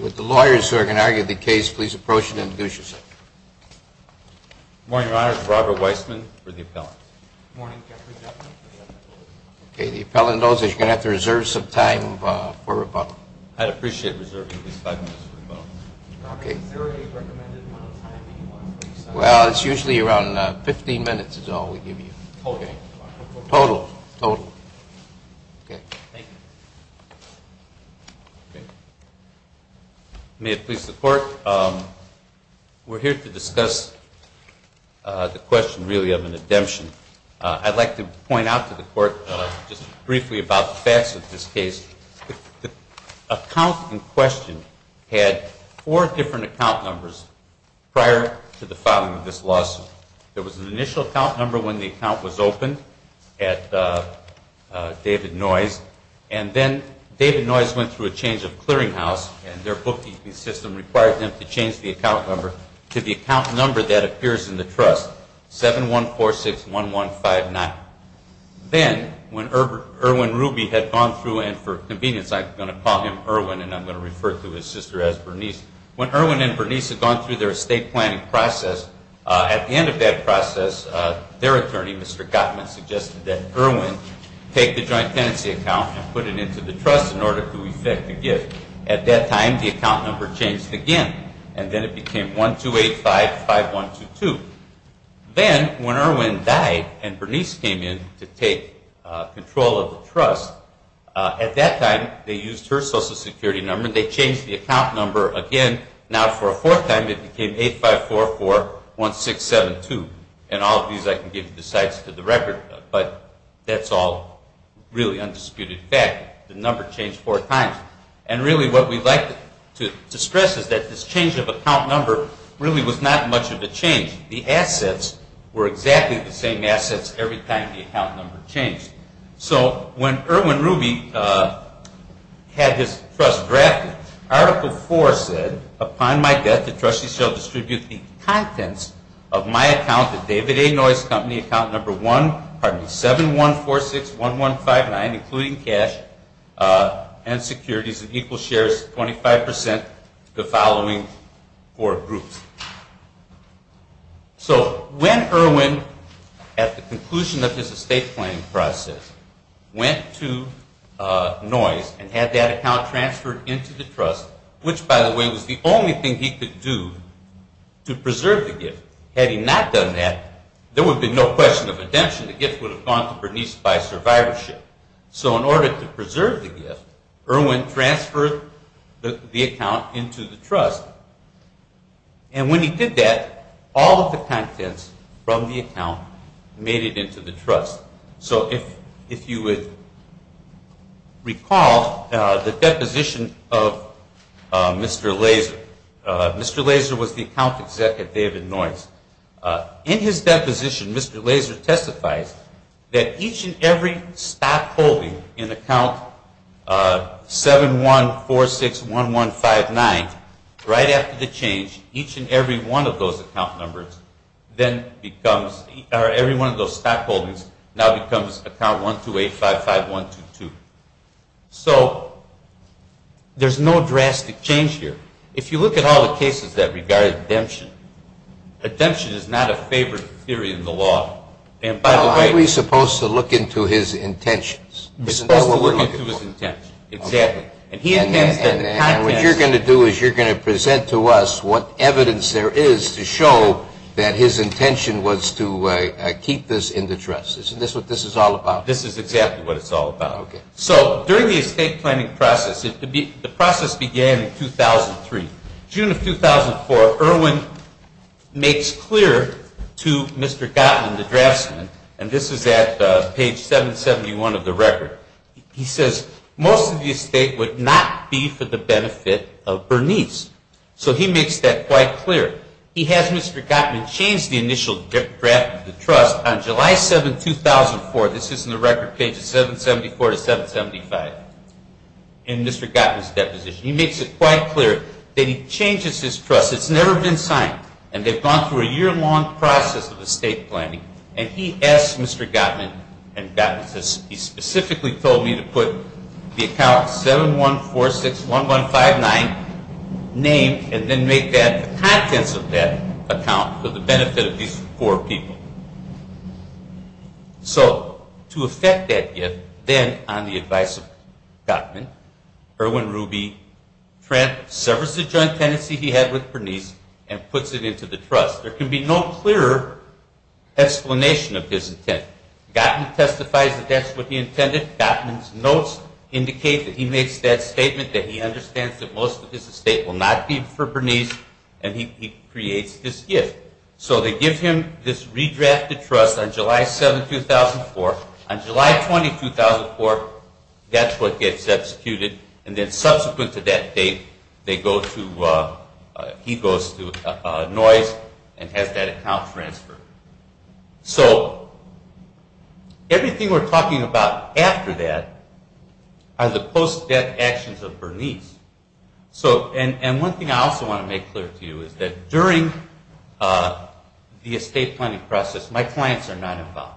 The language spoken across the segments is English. Would the lawyers who are going to argue the case please approach and introduce yourself. Good morning, Your Honor. This is Robert Weissman for the appellant. Good morning, Captain. Okay, the appellant knows that you're going to have to reserve some time for rebuttal. I'd appreciate reserving at least five minutes for rebuttal. Okay. Is there a recommended amount of time you want? Well, it's usually around 15 minutes is all we give you. Okay. Total? Total. Okay. Thank you. May it please the Court, we're here to discuss the question really of an indemption. I'd like to point out to the Court just briefly about the facts of this case. The account in question had four different account numbers prior to the filing of this lawsuit. There was an initial account number when the account was opened at David Noyes, and then David Noyes went through a change of clearinghouse, and their bookkeeping system required them to change the account number to the account number that appears in the trust, 71461159. Then when Irwin Ruby had gone through, and for convenience I'm going to call him Irwin, and I'm going to refer to his sister as Bernice. When Irwin and Bernice had gone through their estate planning process, at the end of that process their attorney, Mr. Gottman, suggested that Irwin take the joint tenancy account and put it into the trust in order to effect the gift. At that time the account number changed again, and then it became 12855122. Then when Irwin died and Bernice came in to take control of the trust, at that time they used her Social Security number and they changed the account number again. Now for a fourth time it became 85441672. And all of these I can give to the record, but that's all really undisputed fact. The number changed four times. And really what we'd like to stress is that this change of account number really was not much of a change. The assets were exactly the same assets every time the account number changed. So when Irwin Ruby had his trust drafted, Article 4 said, upon my death the trustee shall distribute the contents of my account, the David A. Noyes Company account number 71461159, including cash and securities and equal shares, 25% to the following four groups. So when Irwin, at the conclusion of his estate planning process, went to Noyes and had that account transferred into the trust, which by the way was the only thing he could do to preserve the gift. Had he not done that, there would be no question of redemption. The gift would have gone to Bernice by survivorship. So in order to preserve the gift, Irwin transferred the account into the trust. And when he did that, all of the contents from the account made it into the trust. So if you would recall the deposition of Mr. Laser. Mr. Laser was the account executive at David Noyes. In his deposition, Mr. Laser testifies that each and every stock holding in account 71461159, right after the change, each and every one of those account numbers then becomes, or every one of those stock holdings now becomes account 12855122. So there's no drastic change here. If you look at all the cases that regard redemption, redemption is not a favored theory in the law. Aren't we supposed to look into his intentions? We're supposed to look into his intentions, exactly. And what you're going to do is you're going to present to us what evidence there is to show that his intention was to keep this in the trust. Isn't this what this is all about? This is exactly what it's all about. So during the estate planning process, the process began in 2003. June of 2004, Irwin makes clear to Mr. Gottman, the draftsman, and this is at page 771 of the record. He says most of the estate would not be for the benefit of Bernice. So he makes that quite clear. He has Mr. Gottman change the initial draft of the trust on July 7, 2004. This is in the record pages 774 to 775 in Mr. Gottman's deposition. He makes it quite clear that he changes his trust. It's never been signed, and they've gone through a year-long process of estate planning. And he asks Mr. Gottman, and Gottman says, he specifically told me to put the account 71461159 named and then make that the contents of that account for the benefit of these four people. So to effect that gift, then on the advice of Gottman, Irwin Ruby, Trent severs the joint tenancy he had with Bernice and puts it into the trust. There can be no clearer explanation of his intent. Gottman testifies that that's what he intended. Gottman's notes indicate that he makes that statement, that he understands that most of his estate will not be for Bernice, and he creates this gift. So they give him this redrafted trust on July 7, 2004. On July 20, 2004, that's what gets executed, and then subsequent to that date, he goes to Noyes and has that account transferred. So everything we're talking about after that are the post-death actions of Bernice. And one thing I also want to make clear to you is that during the estate planning process, my clients are not involved.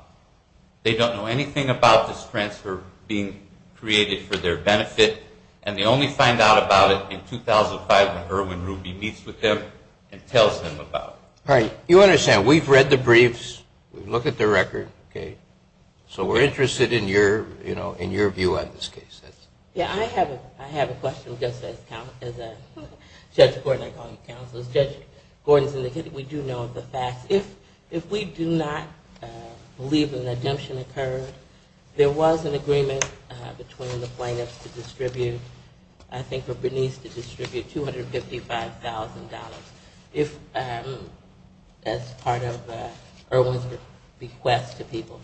They don't know anything about this transfer being created for their benefit, and they only find out about it in 2005 when Irwin Ruby meets with them and tells them about it. You understand, we've read the briefs, we've looked at the record, so we're interested in your view on this case. Yeah, I have a question just as Judge Gordon, I call you counselors. Judge Gordon's indicated we do know the facts. If we do not believe an redemption occurred, there was an agreement between the plaintiffs to distribute, I think, for Bernice to distribute $255,000 as part of Irwin's request to people.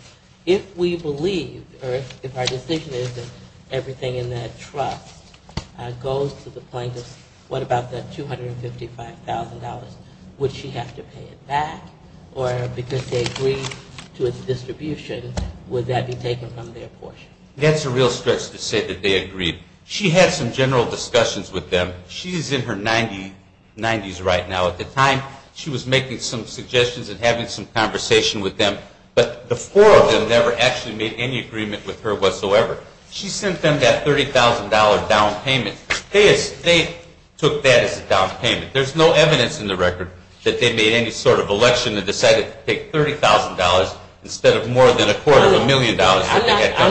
If we believe, or if our decision is that everything in that trust goes to the plaintiffs, what about that $255,000? Would she have to pay it back, or because they agreed to its distribution, would that be taken from their portion? That's a real stretch to say that they agreed. She had some general discussions with them. She's in her 90s right now. At the time, she was making some suggestions and having some conversation with them, but the four of them never actually made any agreement with her whatsoever. She sent them that $30,000 down payment. They took that as a down payment. There's no evidence in the record that they made any sort of election and decided to take $30,000 instead of more than a quarter of a million dollars. I'm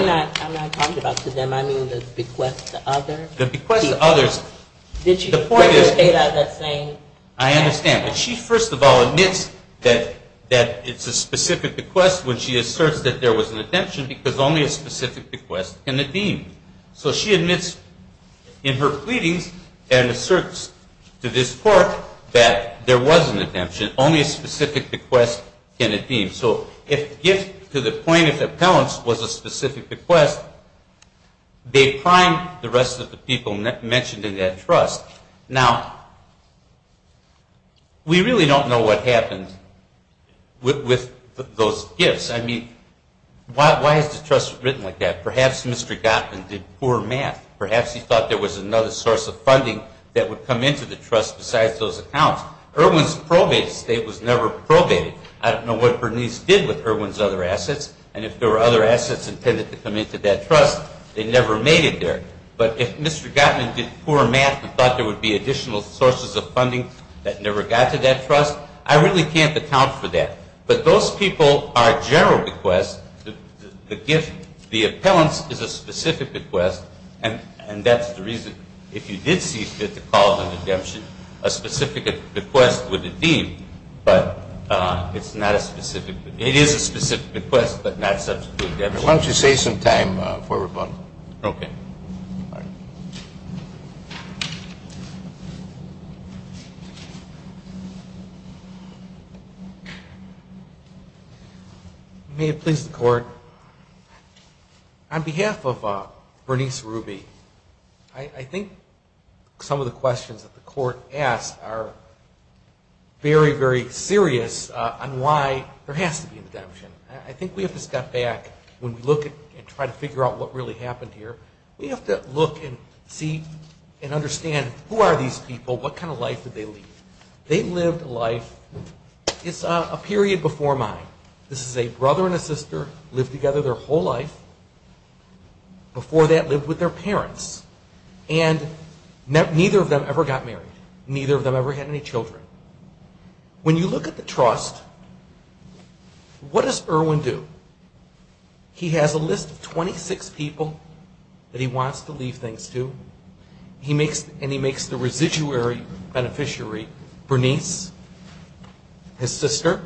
not talking about to them. I mean the bequest to others. The bequest to others. The point is, I understand. She first of all admits that it's a specific bequest when she asserts that there was an redemption because only a specific bequest can it be. So she admits in her pleadings and asserts to this court that there was an redemption. Only a specific bequest can it be. So if the gift to the plaintiff's appellants was a specific bequest, they primed the rest of the people mentioned in that trust. Now, we really don't know what happened with those gifts. I mean, why is the trust written like that? Perhaps Mr. Gottman did poor math. Perhaps he thought there was another source of funding that would come into the trust besides those accounts. Irwin's probate estate was never probated. I don't know what Bernice did with Irwin's other assets, and if there were other assets intended to come into that trust, they never made it there. But if Mr. Gottman did poor math and thought there would be additional sources of funding that never got to that trust, I really can't account for that. But those people are general bequests. The gift to the appellants is a specific bequest, and that's the reason if you did see fit to call it an redemption, a specific bequest would it be, but it's not a specific bequest. It is a specific bequest, but not substitute redemption. Why don't you save some time for rebuttal? Okay. May it please the Court, on behalf of Bernice Ruby, I think some of the questions that the Court asked are very, very serious on why there has to be redemption. I think we have to step back. When we look and try to figure out what really happened here, we have to look and see and understand who are these people, what kind of life did they lead. They lived a life, it's a period before mine. This is a brother and a sister, lived together their whole life. Before that, lived with their parents. And neither of them ever got married. Neither of them ever had any children. When you look at the trust, what does Irwin do? He has a list of 26 people that he wants to leave things to, and he makes the residuary beneficiary, Bernice, his sister,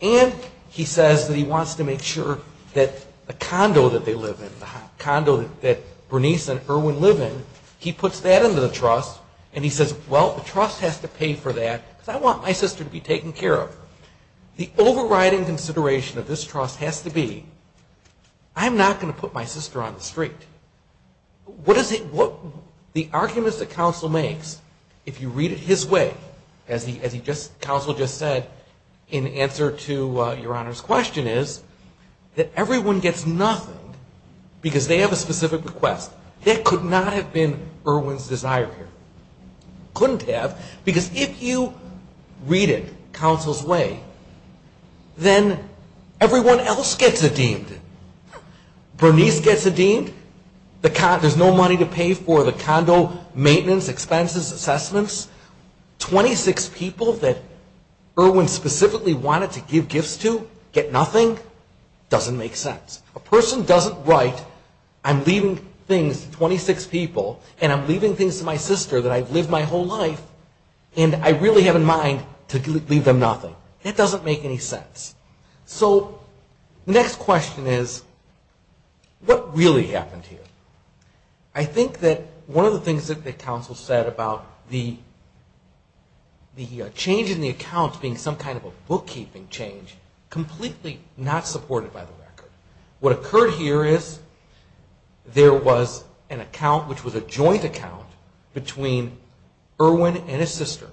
and he says that he wants to make sure that the condo that they live in, the condo that Bernice and Irwin live in, he puts that into the trust and he says, well, the trust has to pay for that because I want my sister to be taken care of. The overriding consideration of this trust has to be, I'm not going to put my sister on the street. The arguments that counsel makes, if you read it his way, as counsel just said in answer to Your Honor's question, is that everyone gets nothing because they have a specific request. That could not have been Irwin's desire here. Couldn't have because if you read it counsel's way, then everyone else gets a deem. Bernice gets a deem. There's no money to pay for the condo maintenance, expenses, assessments. 26 people that Irwin specifically wanted to give gifts to get nothing? Doesn't make sense. A person doesn't write, I'm leaving things to 26 people and I'm leaving things to my sister that I've lived my whole life and I really have in mind to leave them nothing. It doesn't make any sense. So the next question is, what really happened here? I think that one of the things that counsel said about the change in the accounts being some kind of a bookkeeping change, completely not supported by the record. What occurred here is there was an account, which was a joint account between Irwin and his sister.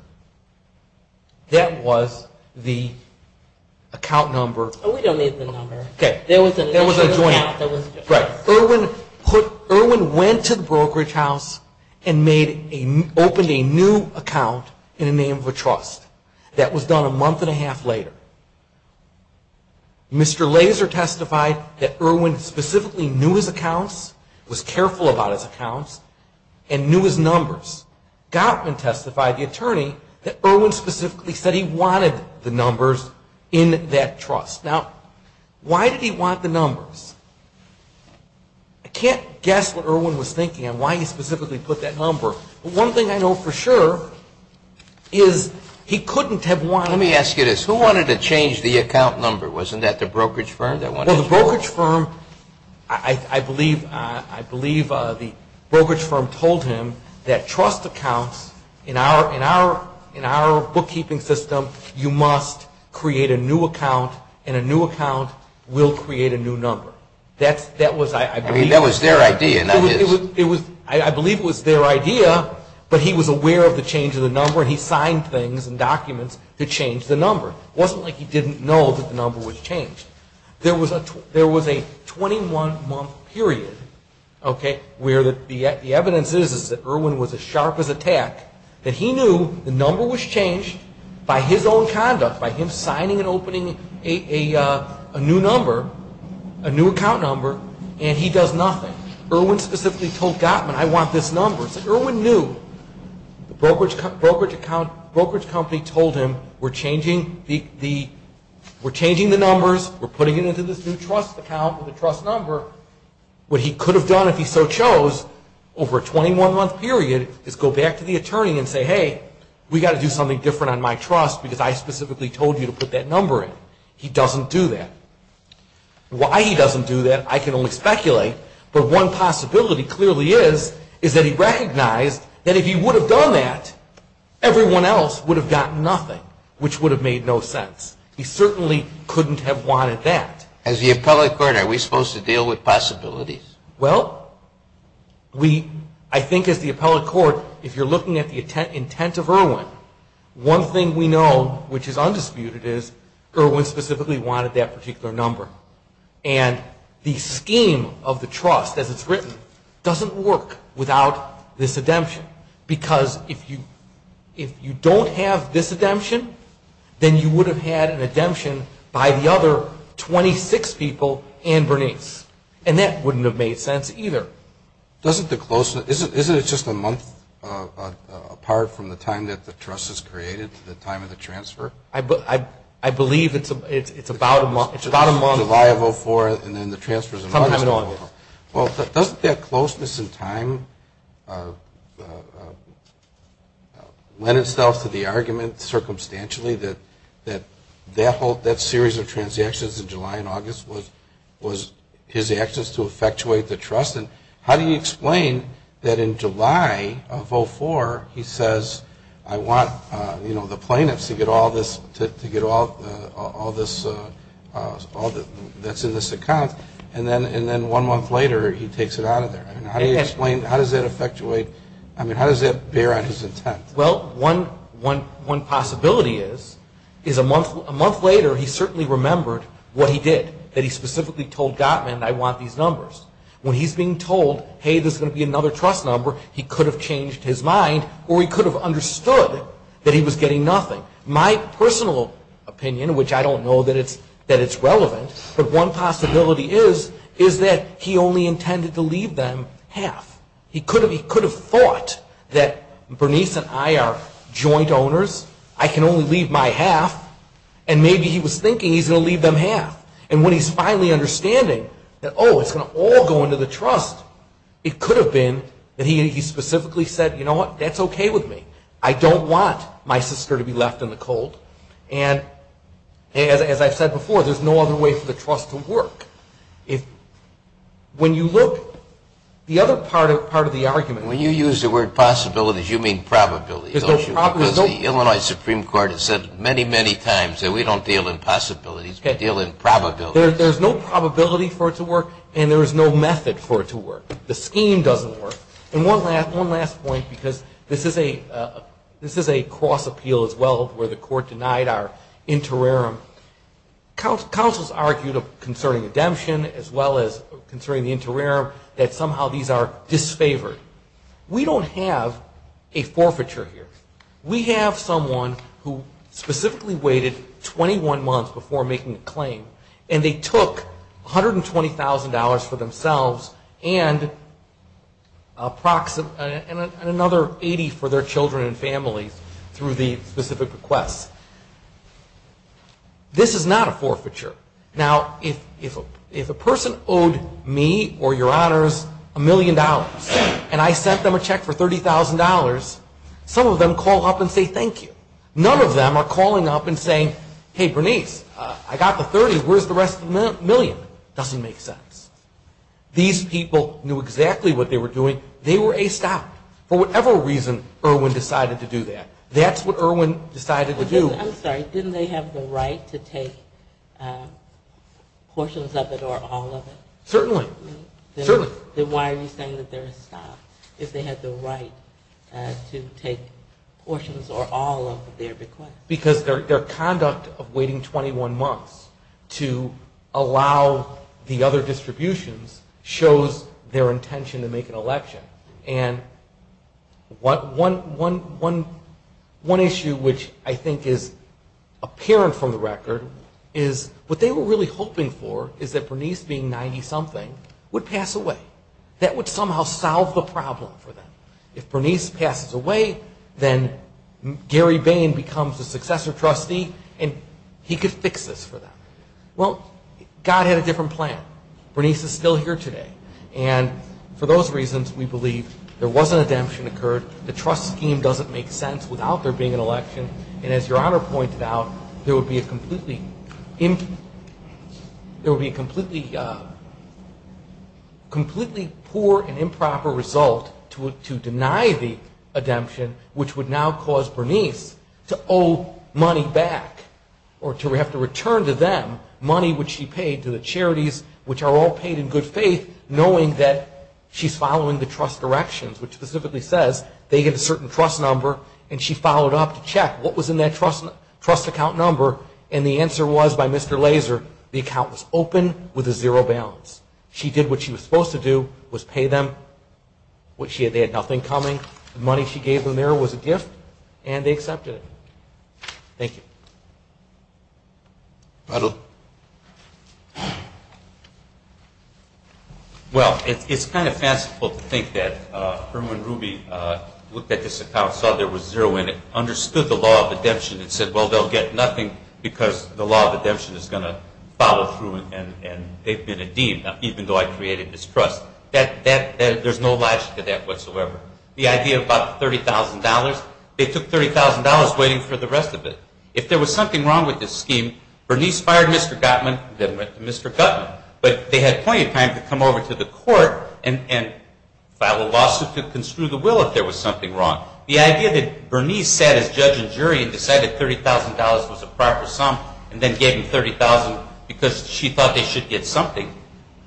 That was the account number. We don't need the number. There was a joint account. Right. Irwin went to the brokerage house and opened a new account in the name of a trust. That was done a month and a half later. Mr. Laser testified that Irwin specifically knew his accounts, was careful about his accounts, and knew his numbers. Gottman testified, the attorney, that Irwin specifically said he wanted the numbers in that trust. Now, why did he want the numbers? I can't guess what Irwin was thinking and why he specifically put that number. One thing I know for sure is he couldn't have wanted to. Let me ask you this. Who wanted to change the account number? Wasn't that the brokerage firm that wanted to do it? Well, the brokerage firm, I believe the brokerage firm told him that trust accounts, in our bookkeeping system, you must create a new account, and a new account will create a new number. That was, I believe. I mean, that was their idea, not his. I believe it was their idea, but he was aware of the change in the number, and he signed things and documents to change the number. It wasn't like he didn't know that the number was changed. There was a 21-month period, okay, where the evidence is that Irwin was as sharp as a tack, that he knew the number was changed by his own conduct, by him signing and opening a new number, a new account number, and he does nothing. Irwin specifically told Gottman, I want this number. Irwin knew. The brokerage company told him, we're changing the numbers, we're putting it into this new trust account with a trust number. What he could have done if he so chose, over a 21-month period, is go back to the attorney and say, hey, we've got to do something different on my trust because I specifically told you to put that number in. He doesn't do that. Why he doesn't do that, I can only speculate, but one possibility clearly is that he recognized that if he would have done that, everyone else would have gotten nothing, which would have made no sense. He certainly couldn't have wanted that. As the appellate court, are we supposed to deal with possibilities? Well, I think as the appellate court, if you're looking at the intent of Irwin, one thing we know which is undisputed is Irwin specifically wanted that particular number. And the scheme of the trust, as it's written, doesn't work without this redemption because if you don't have this redemption, then you would have had an redemption by the other 26 people and Bernice. And that wouldn't have made sense either. Isn't it just a month apart from the time that the trust is created to the time of the transfer? I believe it's about a month. July of 04 and then the transfers in August. Doesn't that closeness in time lend itself to the argument circumstantially that that series of transactions in July and August was his actions to effectuate the trust? How do you explain that in July of 04 he says, I want the plaintiffs to get all this that's in this account, and then one month later he takes it out of there? How does that affectuate, I mean, how does that bear on his intent? Well, one possibility is a month later he certainly remembered what he did, that he specifically told Gottman, I want these numbers. When he's being told, hey, there's going to be another trust number, he could have changed his mind or he could have understood that he was getting nothing. My personal opinion, which I don't know that it's relevant, but one possibility is that he only intended to leave them half. He could have thought that Bernice and I are joint owners, I can only leave my half, and maybe he was thinking he's going to leave them half. And when he's finally understanding that, oh, it's going to all go into the trust, it could have been that he specifically said, you know what, that's okay with me. I don't want my sister to be left in the cold. And as I've said before, there's no other way for the trust to work. When you look, the other part of the argument. When you use the word possibilities, you mean probabilities. Because the Illinois Supreme Court has said many, many times that we don't deal in possibilities, we deal in probabilities. There's no probability for it to work, and there is no method for it to work. The scheme doesn't work. And one last point, because this is a cross-appeal as well, where the court denied our interim. Counselors argued concerning redemption as well as concerning the interim that somehow these are disfavored. We don't have a forfeiture here. We have someone who specifically waited 21 months before making a claim, and they took $120,000 for themselves and another 80 for their children and families through the specific request. This is not a forfeiture. Now, if a person owed me or your honors a million dollars, and I sent them a check for $30,000, some of them call up and say thank you. None of them are calling up and saying, hey, Bernice, I got the 30. Where's the rest of the million? It doesn't make sense. These people knew exactly what they were doing. They were a stop. For whatever reason, Irwin decided to do that. That's what Irwin decided to do. I'm sorry. Didn't they have the right to take portions of it or all of it? Certainly. Then why are you saying that they're a stop, if they had the right to take portions or all of their request? Because their conduct of waiting 21 months to allow the other distributions shows their intention to make an election. And one issue which I think is apparent from the record is what they were really hoping for is that Bernice, being 90-something, would pass away. That would somehow solve the problem for them. If Bernice passes away, then Gary Bain becomes a successor trustee, and he could fix this for them. Well, God had a different plan. Bernice is still here today. And for those reasons, we believe there was an redemption occurred. The trust scheme doesn't make sense without there being an election. And as Your Honor pointed out, there would be a completely poor and improper result to deny the redemption, which would now cause Bernice to owe money back or to have to return to them money which she paid to the charities, which are all paid in good faith, knowing that she's following the trust directions, which specifically says they get a certain trust number, and she followed up to check what was in that trust account number. And the answer was, by Mr. Laser, the account was open with a zero balance. She did what she was supposed to do, which was pay them. They had nothing coming. The money she gave them there was a gift, and they accepted it. Thank you. Well, it's kind of fanciful to think that Herman Ruby looked at this account, saw there was zero in it, understood the law of redemption, and said, well, they'll get nothing because the law of redemption is going to follow through and they've been redeemed, even though I created this trust. There's no logic to that whatsoever. The idea of about $30,000, they took $30,000 waiting for the rest of it. If there was something wrong with this scheme, Bernice fired Mr. Gottman, then went to Mr. Gottman, but they had plenty of time to come over to the court and file a lawsuit to construe the will if there was something wrong. The idea that Bernice sat as judge and jury and decided $30,000 was a proper sum and then gave them $30,000 because she thought they should get something,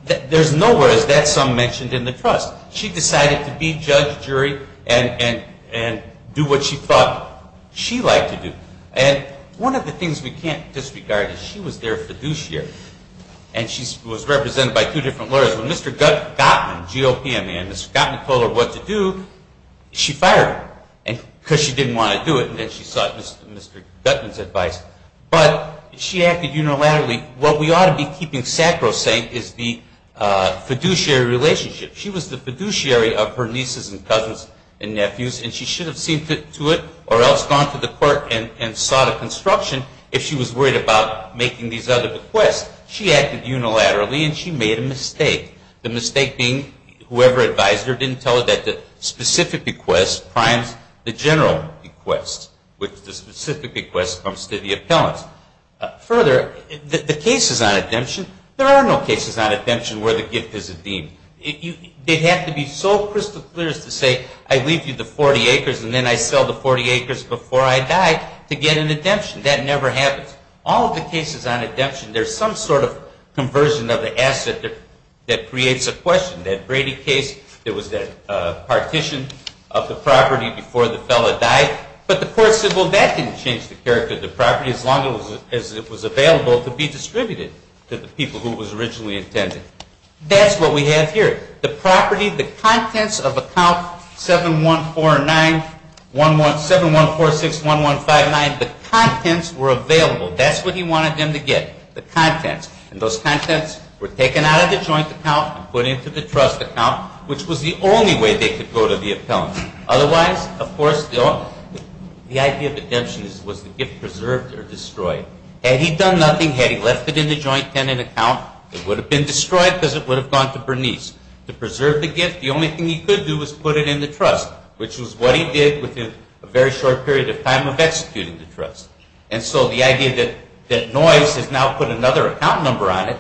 there's nowhere is that sum mentioned in the trust. She decided to be judge, jury, and do what she thought she liked to do. And one of the things we can't disregard is she was their fiduciary and she was represented by two different lawyers. When Mr. Gottman, GOPMN, Mr. Gottman told her what to do, she fired him because she didn't want to do it and then she sought Mr. Gottman's advice. But she acted unilaterally. What we ought to be keeping sacrosanct is the fiduciary relationship. She was the fiduciary of her nieces and cousins and nephews and she should have seen fit to it or else gone to the court and sought a construction if she was worried about making these other bequests. She acted unilaterally and she made a mistake. The mistake being whoever advised her didn't tell her that the specific bequest primes the general bequest, which the specific bequest comes to the appellant. They have to be so crystal clear as to say I leave you the 40 acres and then I sell the 40 acres before I die to get an redemption. That never happens. All of the cases on redemption, there's some sort of conversion of the asset that creates a question. That Brady case, there was that partition of the property before the fellow died, but the court said, well, that didn't change the character of the property as long as it was available to be distributed to the people who it was originally intended. That's what we have here. The property, the contents of account 7146-1159, the contents were available. That's what he wanted them to get, the contents. And those contents were taken out of the joint account and put into the trust account, which was the only way they could go to the appellant. Otherwise, of course, the idea of redemption was to get preserved or destroyed. Had he done nothing, had he left it in the joint tenant account, it would have been destroyed because it would have gone to Bernice. To preserve the gift, the only thing he could do was put it in the trust, which was what he did within a very short period of time of executing the trust. And so the idea that Noyes has now put another account number on it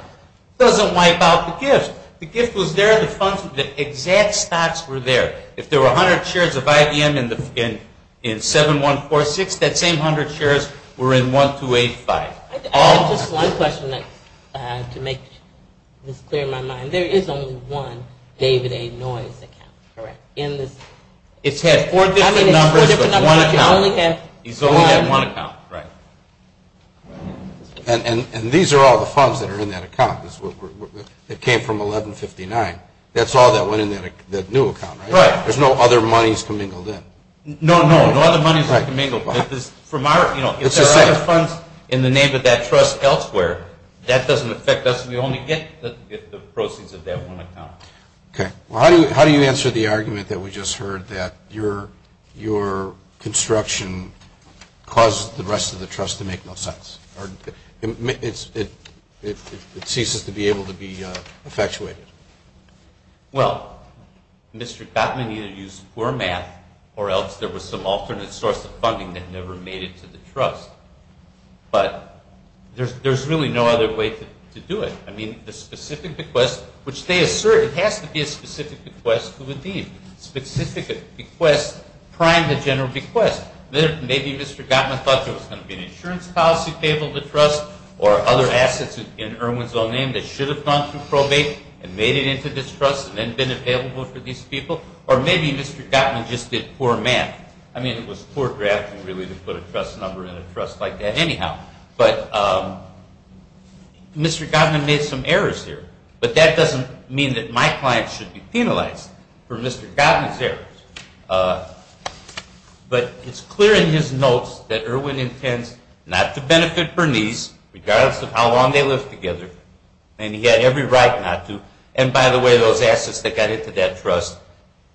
doesn't wipe out the gift. The gift was there, the funds, the exact stocks were there. If there were 100 shares of IBM in 7146, that same 100 shares were in 1285. I have just one question to make this clear in my mind. There is only one David A. Noyes account, correct? It's had four different numbers but one account. He's only had one account, right. And these are all the funds that are in that account that came from 1159. That's all that went in that new account, right? Right. There's no other monies commingled in. No, no, no other monies are commingled. If there are other funds in the name of that trust elsewhere, that doesn't affect us. We only get the proceeds of that one account. Okay. Well, how do you answer the argument that we just heard, that your construction caused the rest of the trust to make no sense? It ceases to be able to be effectuated. Well, Mr. Gottman either used poor math or else there was some alternate source of funding that never made it to the trust. But there's really no other way to do it. I mean, the specific bequest, which they assert, it has to be a specific bequest to a deed. Specific bequest prime the general bequest. Maybe Mr. Gottman thought there was going to be an insurance policy payable to trust or other assets in Irwin's own name that should have gone through probate and made it into this trust and then been available for these people. Or maybe Mr. Gottman just did poor math. I mean, it was poor drafting really to put a trust number in a trust like that anyhow. But Mr. Gottman made some errors here. But that doesn't mean that my client should be penalized for Mr. Gottman's errors. But it's clear in his notes that Irwin intends not to benefit Bernice, regardless of how long they lived together, and he had every right not to. And by the way, those assets that got into that trust,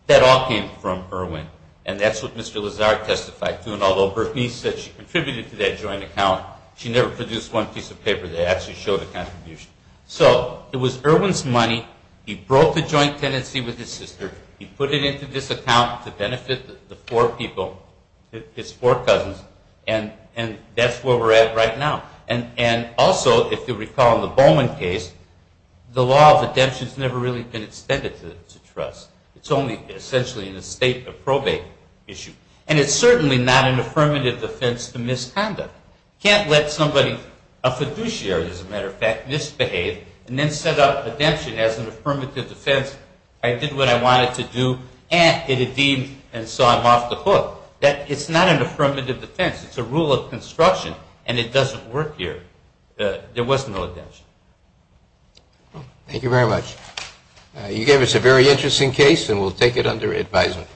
that all came from Irwin. And that's what Mr. Lazar testified to. And although Bernice said she contributed to that joint account, she never produced one piece of paper that actually showed a contribution. So it was Irwin's money. He broke the joint tenancy with his sister. He put it into this account to benefit the four people, his four cousins, and that's where we're at right now. And also, if you recall in the Bowman case, the law of redemption has never really been extended to trust. It's only essentially in a state of probate issue. And it's certainly not an affirmative defense to misconduct. You can't let somebody, a fiduciary as a matter of fact, misbehave and then set up redemption as an affirmative defense. I did what I wanted to do, and it had deemed and so I'm off the hook. It's not an affirmative defense. It's a rule of construction, and it doesn't work here. There was no redemption. Thank you very much. You gave us a very interesting case, and we'll take it under advisement.